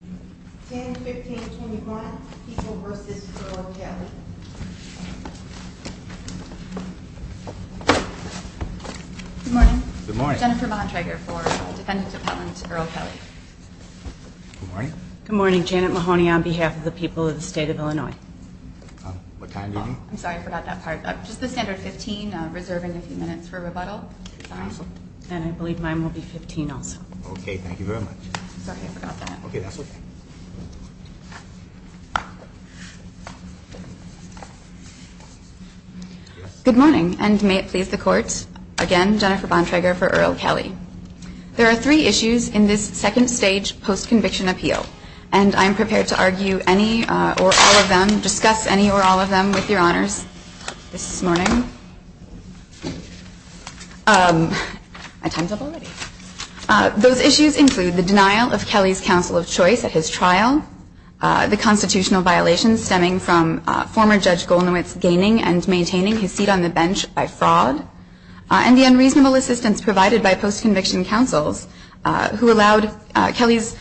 Good morning, Janet Mahoney on behalf of the people of the state of Illinois. I'm sorry, I forgot that part. Just the standard 15 reserving a few minutes for rebuttal. And I believe mine will be 15 also. Okay, thank you very much. Sorry, I forgot that. Okay, that's okay. Good morning, and may it please the court. Again, Jennifer Bontrager for Earl Kelly. There are three issues in this second stage post-conviction appeal, and I am prepared to argue any or all of them, discuss any or all of them with your honors this morning. Those issues include the denial of Kelly's counsel of choice at his trial, the constitutional violations stemming from former Judge Golnowitz gaining and maintaining his seat on the bench by fraud, and the unreasonable assistance provided by post-conviction counsels who allowed Kelly's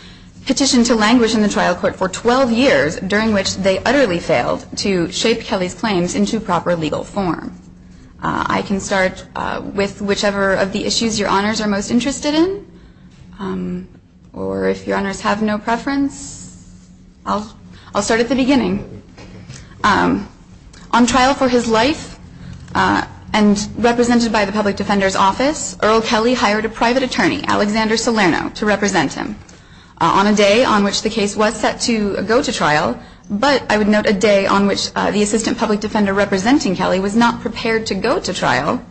petition to languish in the trial court for 12 years, during which they utterly failed to shape Kelly's claims into proper legal form. I can start with whichever of the issues your honors are most interested in, or if your honors have no preference, I'll start at the beginning. On trial for his life, and represented by the Public Defender's Office, Earl Kelly hired a private attorney, Alexander Salerno, to represent him. On a day on which the case was set to go to trial, but I would note a day on which the Assistant Public Defender representing Kelly was not prepared to go to trial,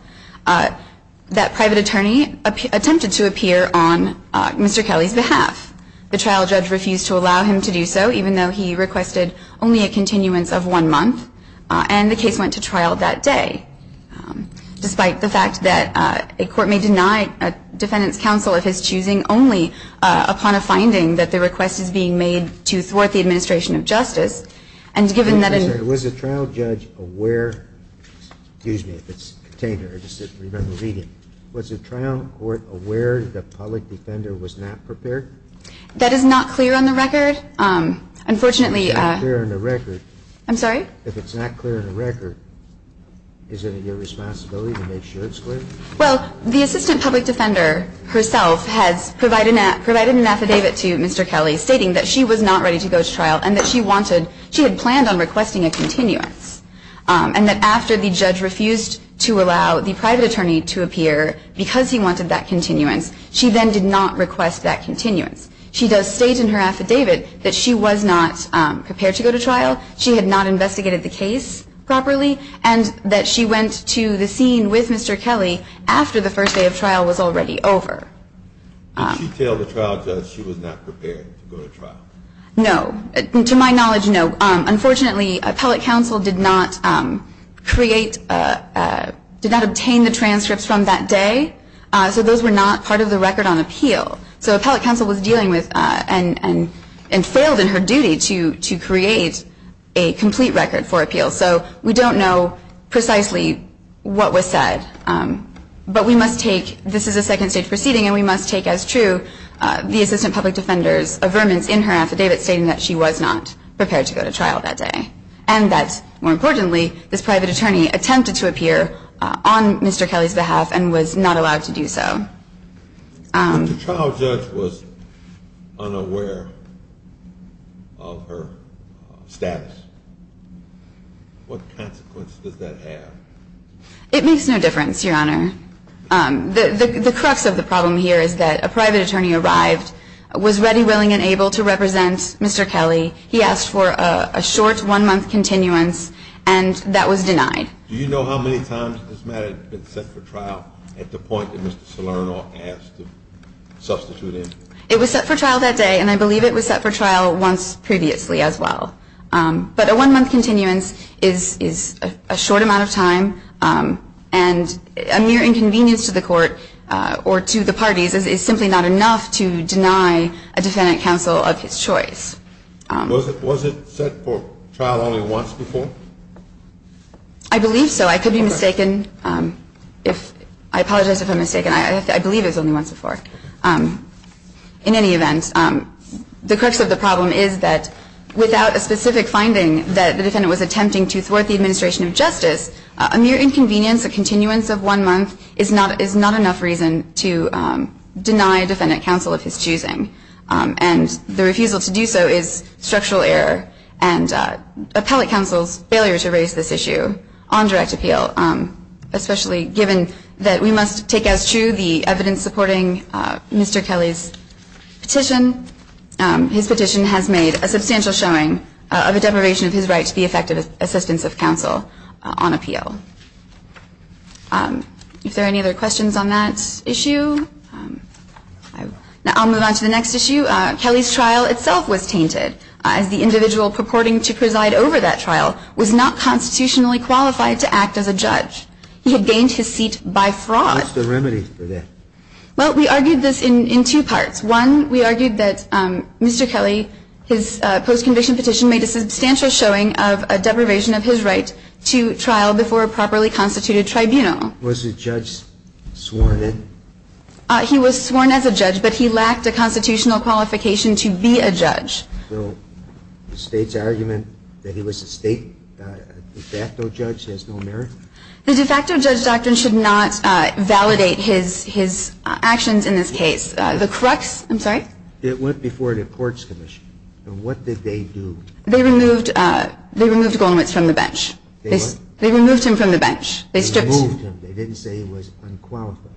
that private attorney attempted to appear on Mr. Kelly's behalf. The trial judge refused to allow him to do so, even though he requested only a continuance of one month, and the case went to trial that day. Despite the fact that a court may deny a defendant's counsel of his choosing only upon a finding that the request is being made to thwart the administration of justice, and given that in the trial judge aware the public defender was not prepared? That is not clear on the record. Unfortunately, It's not clear on the record. I'm sorry? If it's not clear on the record, is it your responsibility to make sure it's clear? Well, the Assistant Public Defender herself has provided an affidavit to Mr. Kelly stating that she was not ready to go to trial, and that she had planned on requesting a continuance, and that after the judge refused to allow the private attorney to appear because he wanted that continuance, she then did not request that continuance. She does state in her affidavit that she was not prepared to go to trial, she had not investigated the case properly, and that she went to the scene with Mr. Kelly after the first day of trial was already over. Did she tell the trial judge she was not prepared to go to trial? No. To my knowledge, no. Unfortunately, appellate counsel did not create, did not obtain the transcripts from that day, so those were not part of the record on appeal. So appellate counsel was dealing with, and failed in her duty to create a complete record for appeal, so we don't know precisely what was said. But we must take, this is a second stage proceeding, and we must take as true the Assistant Public Defender's affirmance in her affidavit stating that she was not prepared to go to trial that day, and that, more importantly, this private attorney attempted to appear on Mr. Kelly's behalf and was not allowed to do so. If the trial judge was unaware of her status, what consequence does that have? It makes no difference, Your Honor. The crux of the problem here is that a private attorney arrived, was ready, willing, and able to represent Mr. Kelly. He asked for a short one-month continuance, and that was denied. Do you know how many times this matter had been set for trial at the point that Mr. Salerno asked to substitute in? It was set for trial that day, and I believe it was set for trial once previously as well. But a one-month continuance is a short amount of time, and a mere inconvenience to the court or to the parties is simply not enough to deny a defendant counsel of his choice. Was it set for trial only once before? I believe so. I could be mistaken. I apologize if I'm mistaken. I believe it was only once before. In any event, the crux of the problem is that without a specific finding that the defendant was attempting to thwart the administration of justice, a mere inconvenience, a continuance of one month, is not enough reason to deny a defendant counsel of his choosing. And the refusal to do so is structural error and appellate counsel's failure to raise this issue on direct appeal, especially given that we must take as true the evidence supporting Mr. Kelly's petition. His petition has made a substantial showing of a deprivation of his right to the effective assistance of counsel on appeal. Are there any other questions on that issue? Now, I'll move on to the next issue. Kelly's trial itself was tainted, as the individual purporting to preside over that trial was not constitutionally qualified to act as a judge. He had gained his seat by fraud. What's the remedy for that? Well, we argued this in two parts. One, we argued that Mr. Kelly, his post-conviction petition, made a substantial showing of a deprivation of his right to trial before a properly constituted tribunal. Was the judge sworn in? He was sworn as a judge, but he lacked a constitutional qualification to be a judge. So the State's argument that he was a State de facto judge has no merit? The de facto judge doctrine should not validate his actions in this case. The crux, I'm sorry? It went before the Courts Commission. What did they do? They removed Goldman from the bench. They what? They removed him from the bench. They stripped him. They removed him. They didn't say he was unqualified.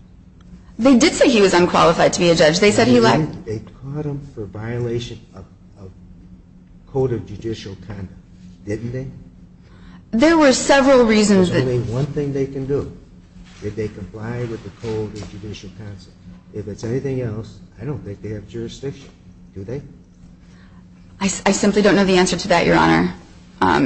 They did say he was unqualified to be a judge. They said he lacked. They caught him for violation of Code of Judicial Conduct, didn't they? There were several reasons. There's only one thing they can do. If they comply with the Code of Judicial Conduct. If it's anything else, I don't think they have jurisdiction, do they? I simply don't know the answer to that, Your Honor. I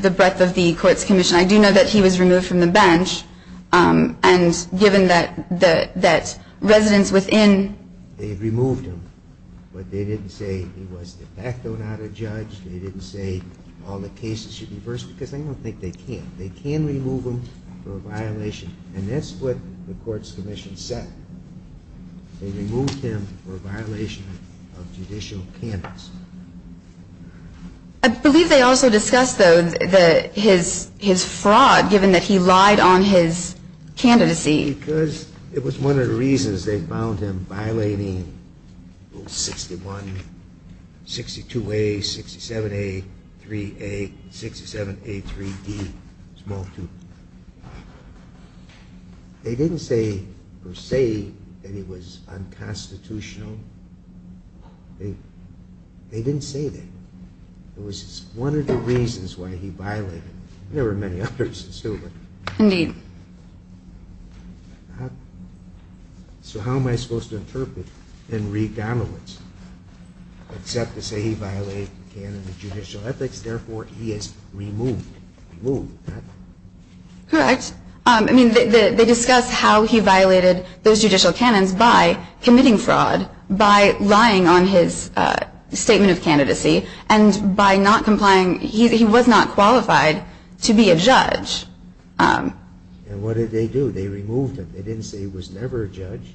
do know that he was removed from the bench, and given that residents within They removed him, but they didn't say he was de facto, not a judge. They didn't say all the cases should be reversed, because I don't think they can. They can remove him for a violation, and that's what the Courts Commission said. They removed him for violation of judicial candidates. I believe they also discussed, though, his fraud, given that he lied on his candidacy. Because it was one of the reasons they found him violating Rule 61, 62A, 67A, 3A, 67A, 3D, small 2. They didn't say, per se, that he was unconstitutional. They didn't say that. It was one of the reasons why he violated it. There were many others, too. Indeed. So how am I supposed to interpret Henry Donowitz? Except to say he violated the canon of judicial ethics, therefore he is removed. Correct. They discuss how he violated those judicial canons by committing fraud, by lying on his statement of candidacy, and by not complying. He was not qualified to be a judge. And what did they do? They removed him. They didn't say he was never a judge.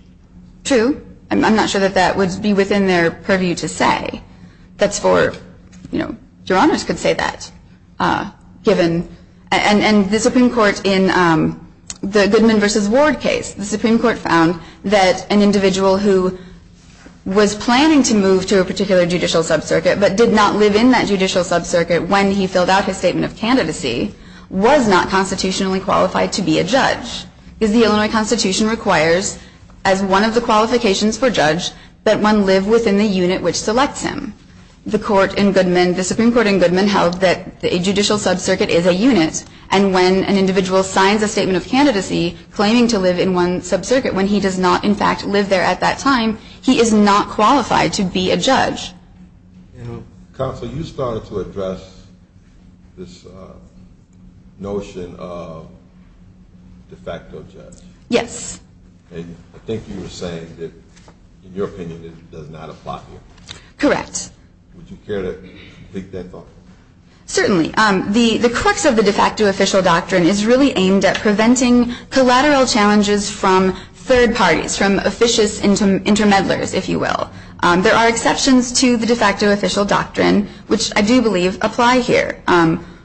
True. I'm not sure that that would be within their purview to say. That's for, you know, your honors could say that, given. And the Supreme Court in the Goodman v. Ward case, the Supreme Court found that an individual who was planning to move to a particular judicial sub-circuit, but did not live in that judicial sub-circuit when he filled out his statement of candidacy, was not constitutionally qualified to be a judge. Because the Illinois Constitution requires, as one of the qualifications for judge, that one live within the unit which selects him. The court in Goodman, the Supreme Court in Goodman, held that a judicial sub-circuit is a unit, and when an individual signs a statement of candidacy claiming to live in one sub-circuit, when he does not, in fact, live there at that time, he is not qualified to be a judge. Counsel, you started to address this notion of de facto judge. Yes. And I think you were saying that, in your opinion, it does not apply here. Correct. Would you care to take that thought? Certainly. The crux of the de facto official doctrine is really aimed at preventing collateral challenges from third parties, from officious inter-meddlers, if you will. There are exceptions to the de facto official doctrine, which I do believe apply here.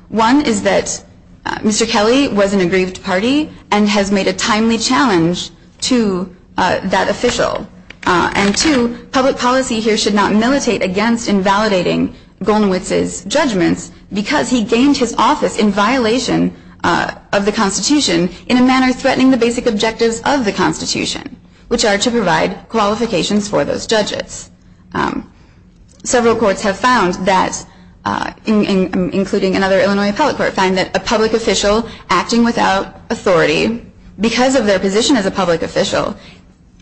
One is that Mr. Kelly was in a grieved party and has made a timely challenge to that official. And two, public policy here should not militate against invalidating Golowitz's judgments because he gained his office in violation of the Constitution in a manner threatening the basic objectives of the Constitution, which are to provide qualifications for those judges. Several courts have found that, including another Illinois appellate court, find that a public official acting without authority, because of their position as a public official,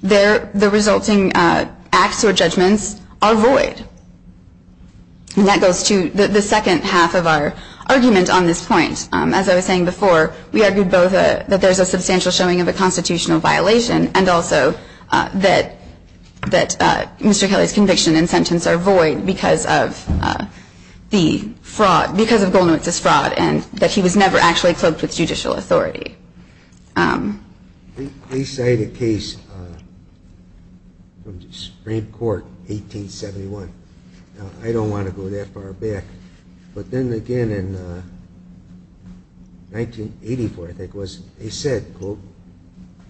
the resulting acts or judgments are void. And that goes to the second half of our argument on this point. As I was saying before, we argued both that there is a substantial showing of a constitutional violation and also that Mr. Kelly's conviction and sentence are void because of the fraud, because of Golowitz's fraud and that he was never actually cloaked with judicial authority. They cite a case from the Supreme Court in 1871. I don't want to go that far back. But then again in 1984, I think it was, they said, quote,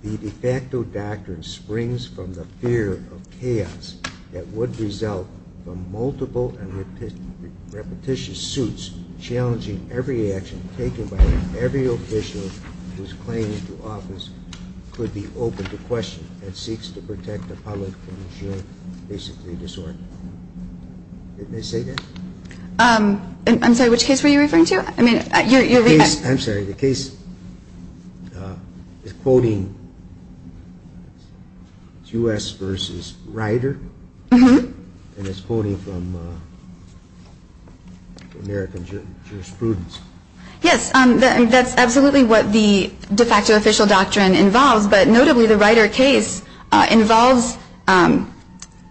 the de facto doctrine springs from the fear of chaos that would result from multiple and repetitious suits challenging every action taken by every official whose claim to office could be opened to question and seeks to protect the public from ensuring basically disorder. Didn't they say that? I'm sorry, which case were you referring to? I'm sorry, the case is quoting U.S. versus Rider? Mm-hmm. And it's quoting from American jurisprudence. Yes, that's absolutely what the de facto official doctrine involves, but notably the Rider case involves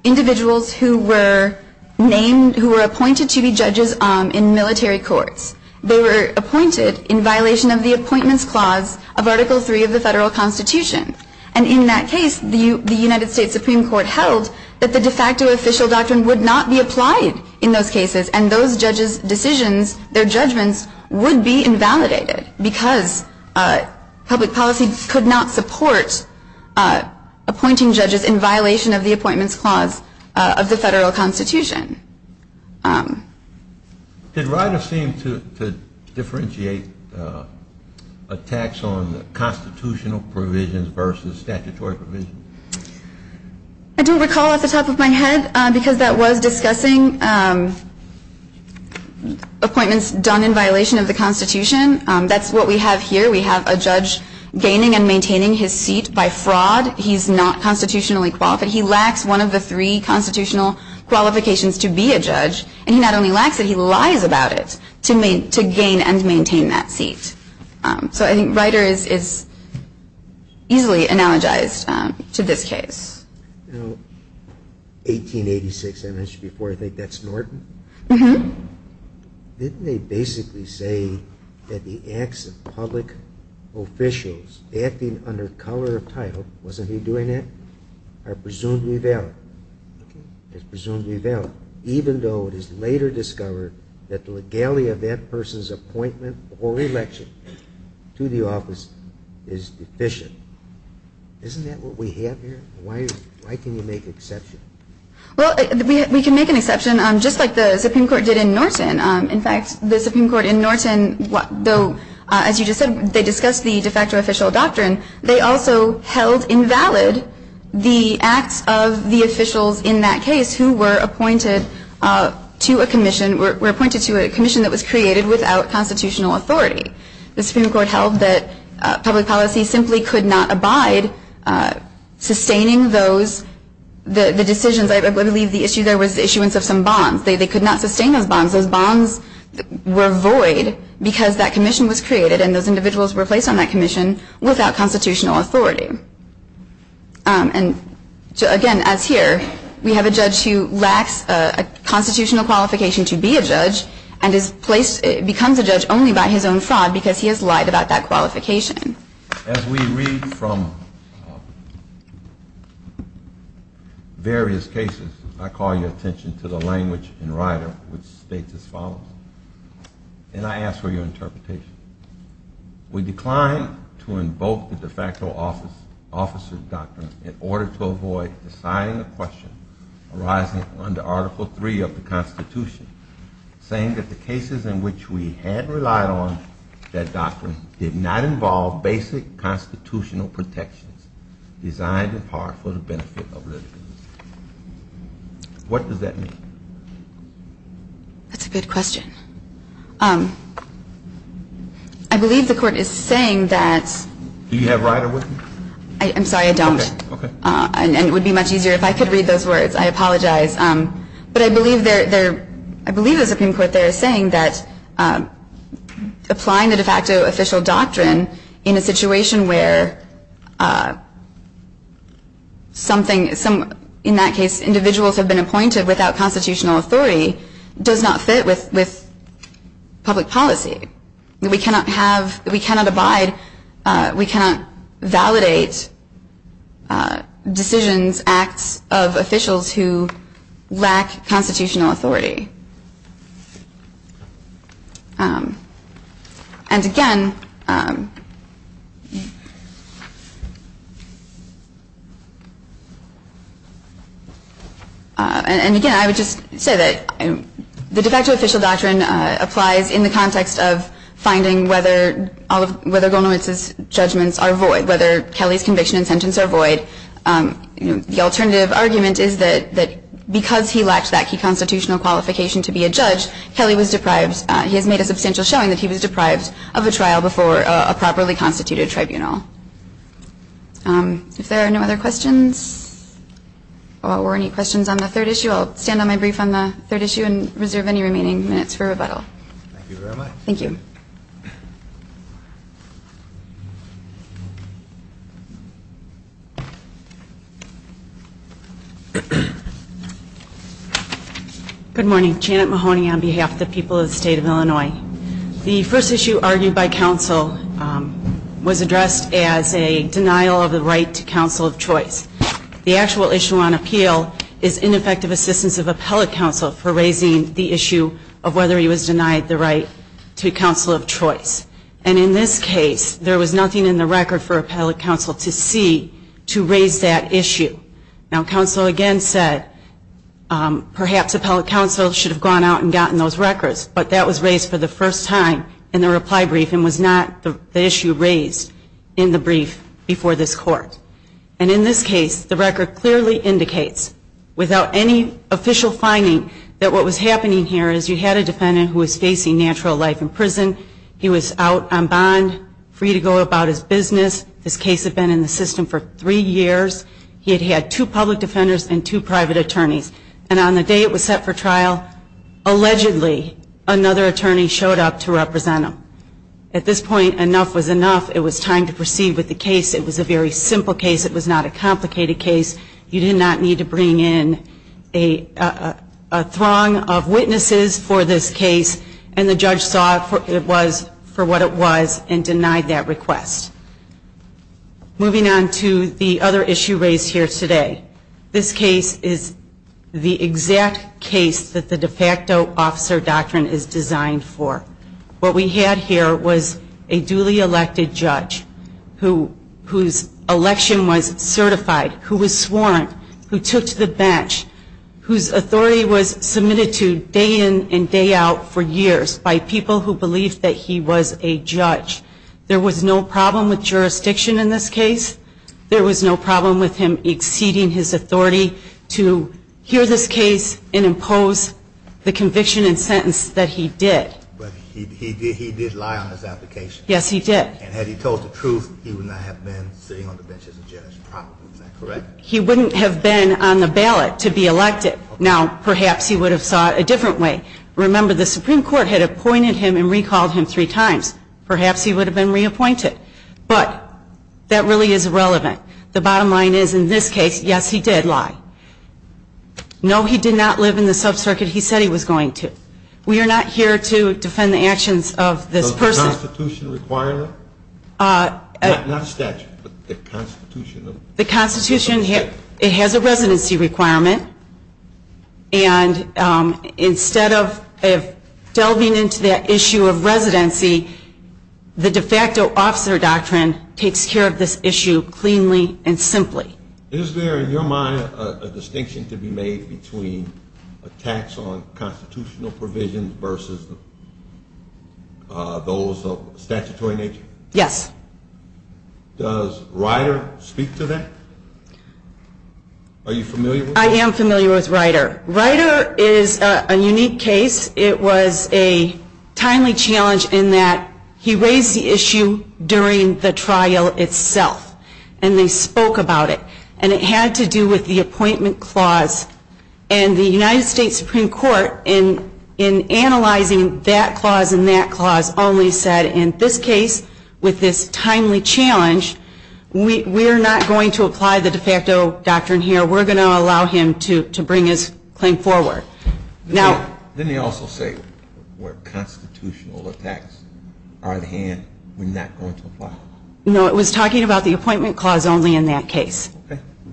individuals who were named, who were appointed to be judges in military courts. They were appointed in violation of the Appointments Clause of Article III of the Federal Constitution. And in that case, the United States Supreme Court held that the de facto official doctrine would not be applied in those cases and those judges' decisions, their judgments, would be invalidated because public policy could not support appointing judges in violation of the Appointments Clause of the Federal Constitution. Did Rider seem to differentiate attacks on constitutional provisions versus statutory provisions? I don't recall off the top of my head because that was discussing appointments done in violation of the Constitution. That's what we have here. We have a judge gaining and maintaining his seat by fraud. He's not constitutionally qualified. He lacks one of the three constitutional qualifications to be a judge, and he not only lacks it, he lies about it to gain and maintain that seat. So I think Rider is easily analogized to this case. Now, 1886, I mentioned before, I think that's Norton? Mm-hmm. Didn't they basically say that the acts of public officials acting under color of title, wasn't he doing that, are presumably valid? It's presumably valid, even though it is later discovered that the legality of that person's appointment or election to the office is deficient. Isn't that what we have here? Why can you make an exception? Well, we can make an exception just like the Supreme Court did in Norton. In fact, the Supreme Court in Norton, though, as you just said, they discussed the de facto official doctrine, they also held invalid the acts of the officials in that case who were appointed to a commission, were appointed to a commission that was created without constitutional authority. The Supreme Court held that public policy simply could not abide sustaining those decisions. I believe the issue there was the issuance of some bonds. They could not sustain those bonds. Those bonds were void because that commission was created and those individuals were placed on that commission without constitutional authority. And again, as here, we have a judge who lacks a constitutional qualification to be a judge and becomes a judge only by his own fraud because he has lied about that qualification. As we read from various cases, I call your attention to the language in Ryder which states as follows. And I ask for your interpretation. We decline to invoke the de facto officer doctrine in order to avoid assigning a question arising under Article 3 of the Constitution saying that the cases in which we had relied on that doctrine did not involve basic constitutional protections designed in part for the benefit of litigants. What does that mean? That's a good question. I believe the Court is saying that. Do you have Ryder with you? I'm sorry, I don't. Okay. And it would be much easier if I could read those words, I apologize. But I believe the Supreme Court there is saying that applying the de facto official doctrine in a situation where, in that case, individuals have been appointed without constitutional authority does not fit with public policy. We cannot have, we cannot abide, we cannot validate decisions, acts of officials who lack constitutional authority. And again, I would just say that the de facto official doctrine applies in the context of finding whether Golnowitz's judgments are void, whether Kelly's conviction and sentence are void. The alternative argument is that because he lacked that key constitutional qualification to be a judge, Kelly was deprived, he has made a substantial showing that he was deprived of a trial before he was convicted. Before a properly constituted tribunal. If there are no other questions, or any questions on the third issue, I'll stand on my brief on the third issue and reserve any remaining minutes for rebuttal. Thank you very much. Thank you. Good morning. The first issue argued by counsel was addressed as a denial of the right to counsel of choice. The actual issue on appeal is ineffective assistance of appellate counsel for raising the issue of whether he was denied the right to counsel of choice. And in this case, there was nothing in the record for appellate counsel to see to raise that issue. Now, counsel again said perhaps appellate counsel should have gone out and gotten those records, but that was raised for the first time in the reply brief and was not the issue raised in the brief before this court. And in this case, the record clearly indicates, without any official finding, that what was happening here is you had a defendant who was facing natural life in prison. He was out on bond, free to go about his business. This case had been in the system for three years. He had had two public defenders and two private attorneys. And on the day it was set for trial, allegedly another attorney showed up to represent him. At this point, enough was enough. It was time to proceed with the case. It was a very simple case. It was not a complicated case. You did not need to bring in a throng of witnesses for this case, and the judge saw it was for what it was and denied that request. Moving on to the other issue raised here today. This case is the exact case that the de facto officer doctrine is designed for. What we had here was a duly elected judge whose election was certified, who was sworn, who took to the bench, whose authority was submitted to day in and day out for years by people who believed that he was a judge. There was no problem with jurisdiction in this case. There was no problem with him exceeding his authority to hear this case and impose the conviction and sentence that he did. But he did lie on his application. Yes, he did. And had he told the truth, he would not have been sitting on the bench as a judge, probably. Is that correct? He wouldn't have been on the ballot to be elected. Now, perhaps he would have saw it a different way. Remember, the Supreme Court had appointed him and recalled him three times. Perhaps he would have been reappointed. But that really is irrelevant. The bottom line is, in this case, yes, he did lie. No, he did not live in the sub-circuit he said he was going to. We are not here to defend the actions of this person. So the Constitution requires it? Not the statute, but the Constitution. The Constitution, it has a residency requirement. And instead of delving into that issue of residency, the de facto officer doctrine takes care of this issue cleanly and simply. Is there, in your mind, a distinction to be made between a tax on constitutional provisions versus those of statutory nature? Yes. Does Ryder speak to that? Are you familiar with that? I am familiar with Ryder. Ryder is a unique case. It was a timely challenge in that he raised the issue during the trial itself. And they spoke about it. And it had to do with the appointment clause. And the United States Supreme Court, in analyzing that clause and that clause, only said, in this case, with this timely challenge, we're not going to apply the de facto doctrine here. We're going to allow him to bring his claim forward. Didn't they also say where constitutional attacks are at hand, we're not going to apply? No, it was talking about the appointment clause only in that case.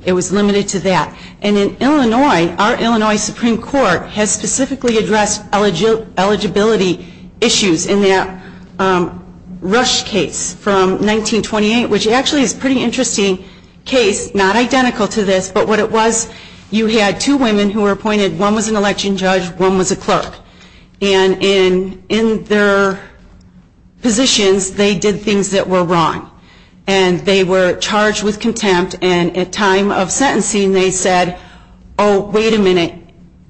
It was limited to that. And in Illinois, our Illinois Supreme Court has specifically addressed eligibility issues in that Rush case from 1928, which actually is a pretty interesting case, not identical to this. But what it was, you had two women who were appointed. One was an election judge. One was a clerk. And in their positions, they did things that were wrong. And they were charged with contempt. And at time of sentencing, they said, oh, wait a minute,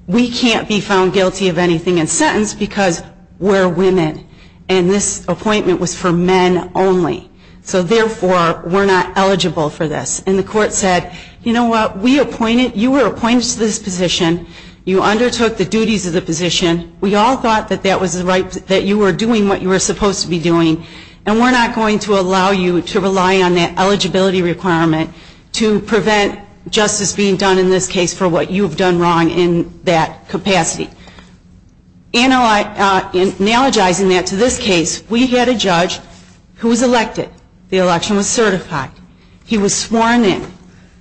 we can't be found guilty of anything in sentence because we're women. And this appointment was for men only. So, therefore, we're not eligible for this. And the court said, you know what, you were appointed to this position. You undertook the duties of the position. We all thought that you were doing what you were supposed to be doing. And we're not going to allow you to rely on that eligibility requirement to prevent justice being done in this case for what you've done wrong in that capacity. Analogizing that to this case, we had a judge who was elected. The election was certified. He was sworn in.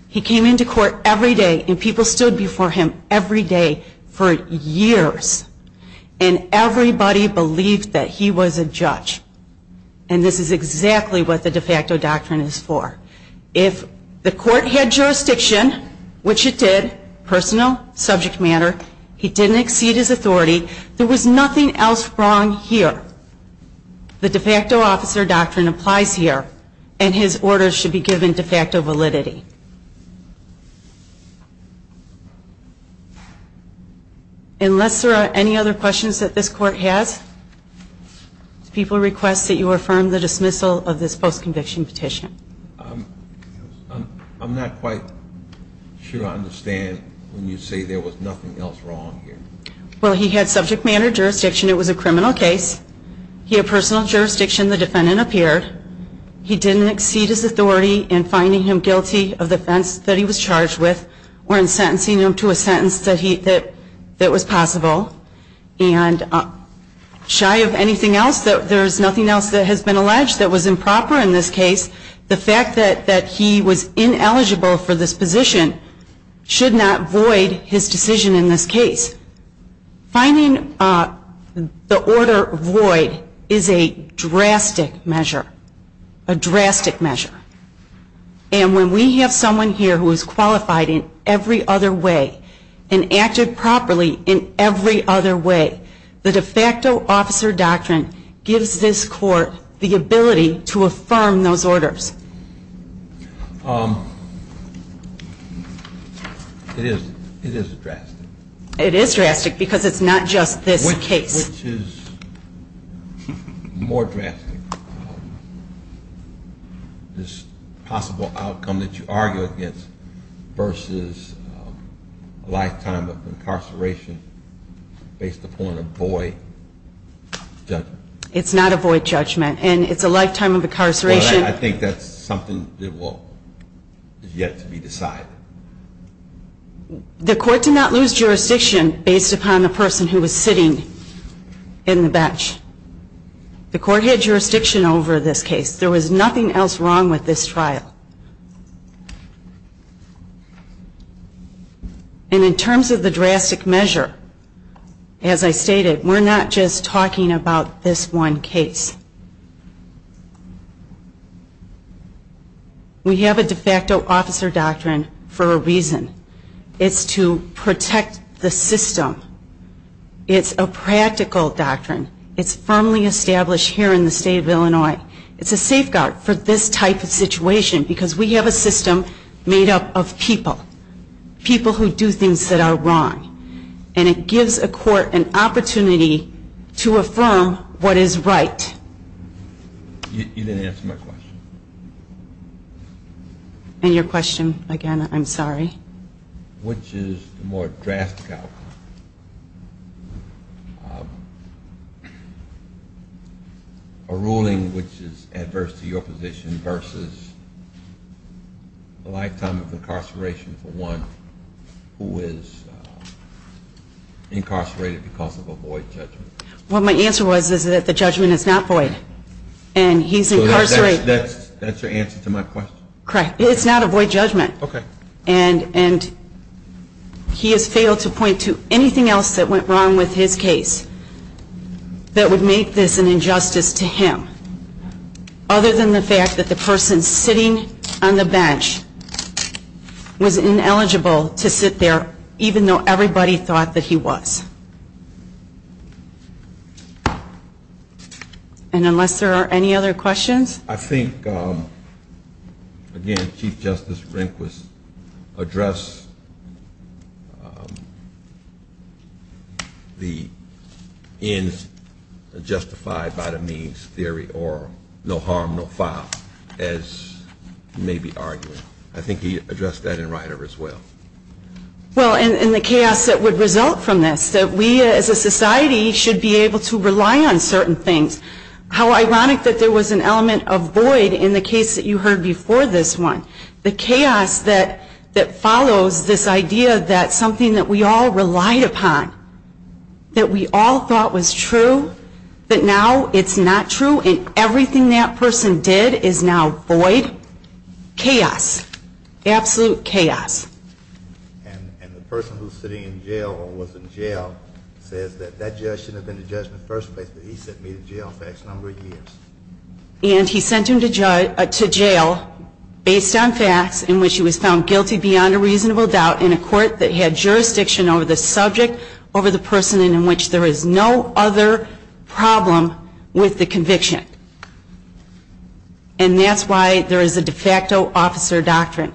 He came into court every day, and people stood before him every day for years. And everybody believed that he was a judge. And this is exactly what the de facto doctrine is for. If the court had jurisdiction, which it did, personal, subject matter, he didn't exceed his authority, there was nothing else wrong here. The de facto officer doctrine applies here. And his orders should be given de facto validity. Unless there are any other questions that this court has, Do people request that you affirm the dismissal of this post-conviction petition? I'm not quite sure I understand when you say there was nothing else wrong here. Well, he had subject matter jurisdiction. It was a criminal case. He had personal jurisdiction. The defendant appeared. He didn't exceed his authority in finding him guilty of the offense that he was charged with or in sentencing him to a sentence that was possible. And shy of anything else, there's nothing else that has been alleged that was improper in this case. The fact that he was ineligible for this position should not void his decision in this case. Finding the order void is a drastic measure, a drastic measure. And when we have someone here who is qualified in every other way and acted properly in every other way, the de facto officer doctrine gives this court the ability to affirm those orders. It is drastic. It is drastic because it's not just this case. Which is more drastic, this possible outcome that you argue against versus a lifetime of incarceration based upon a void judgment? It's not a void judgment, and it's a lifetime of incarceration. Well, I think that's something that is yet to be decided. The court did not lose jurisdiction based upon the person who was sitting in the bench. The court had jurisdiction over this case. There was nothing else wrong with this trial. And in terms of the drastic measure, as I stated, we're not just talking about this one case. We have a de facto officer doctrine for a reason. It's to protect the system. It's a practical doctrine. It's firmly established here in the state of Illinois. It's a safeguard for this type of situation because we have a system made up of people, people who do things that are wrong. And it gives a court an opportunity to affirm what is right. You didn't answer my question. And your question again, I'm sorry. Which is the more drastic outcome? A ruling which is adverse to your position versus a lifetime of incarceration for one who is incarcerated because of a void judgment? Well, my answer was is that the judgment is not void. And he's incarcerated. So that's your answer to my question? Correct. It's not a void judgment. Okay. And he has failed to point to anything else that went wrong with his case that would make this an injustice to him, other than the fact that the person sitting on the bench was ineligible to sit there, even though everybody thought that he was. And unless there are any other questions? I think, again, Chief Justice Rehnquist addressed the ends justified by the means theory or no harm, no foul, as you may be arguing. I think he addressed that in Rider as well. Well, and the chaos that would result from this, that we as a society should be able to rely on certain things. How ironic that there was an element of void in the case that you heard before this one. The chaos that follows this idea that something that we all relied upon, that we all thought was true, that now it's not true and everything that person did is now void. Chaos. Absolute chaos. And the person who's sitting in jail or was in jail says that that judge shouldn't have been the judge in the first place, but he sent me to jail facts a number of years. And he sent him to jail based on facts in which he was found guilty beyond a reasonable doubt in a court that had jurisdiction over the subject, over the person, and in which there is no other problem with the conviction. And that's why there is a de facto officer doctrine.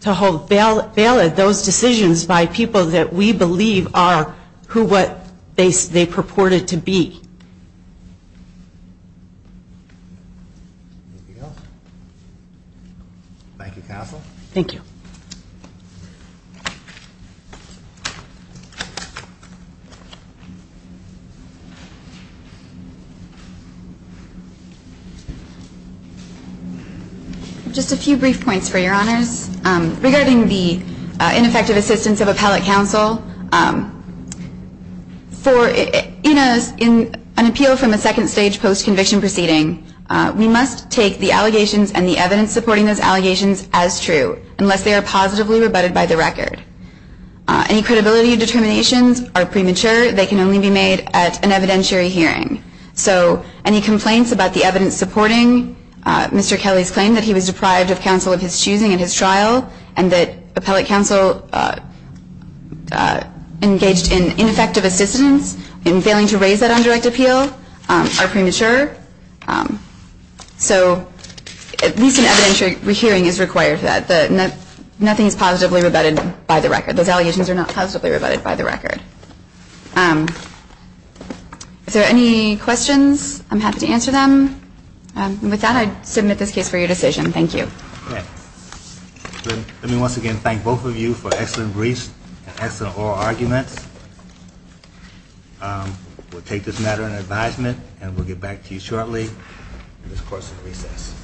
To hold valid those decisions by people that we believe are who what they purported to be. Thank you, Counsel. Thank you. Just a few brief points for your honors. Regarding the ineffective assistance of appellate counsel, in an appeal from a second stage post-conviction proceeding, we must take the allegations and the evidence supporting those allegations as true, unless they are positively rebutted by the record. Any credibility determinations are premature. They can only be made at an evidentiary hearing. So any complaints about the evidence supporting Mr. Kelly's claim that he was deprived of counsel of his choosing in his trial and that appellate counsel engaged in ineffective assistance in failing to raise that undirect appeal are premature. So at least an evidentiary hearing is required for that. Nothing is positively rebutted by the record. Those allegations are not positively rebutted by the record. If there are any questions, I'm happy to answer them. With that, I submit this case for your decision. Thank you. Let me once again thank both of you for excellent briefs and excellent oral arguments. We'll take this matter in advisement, and we'll get back to you shortly in this course of recess.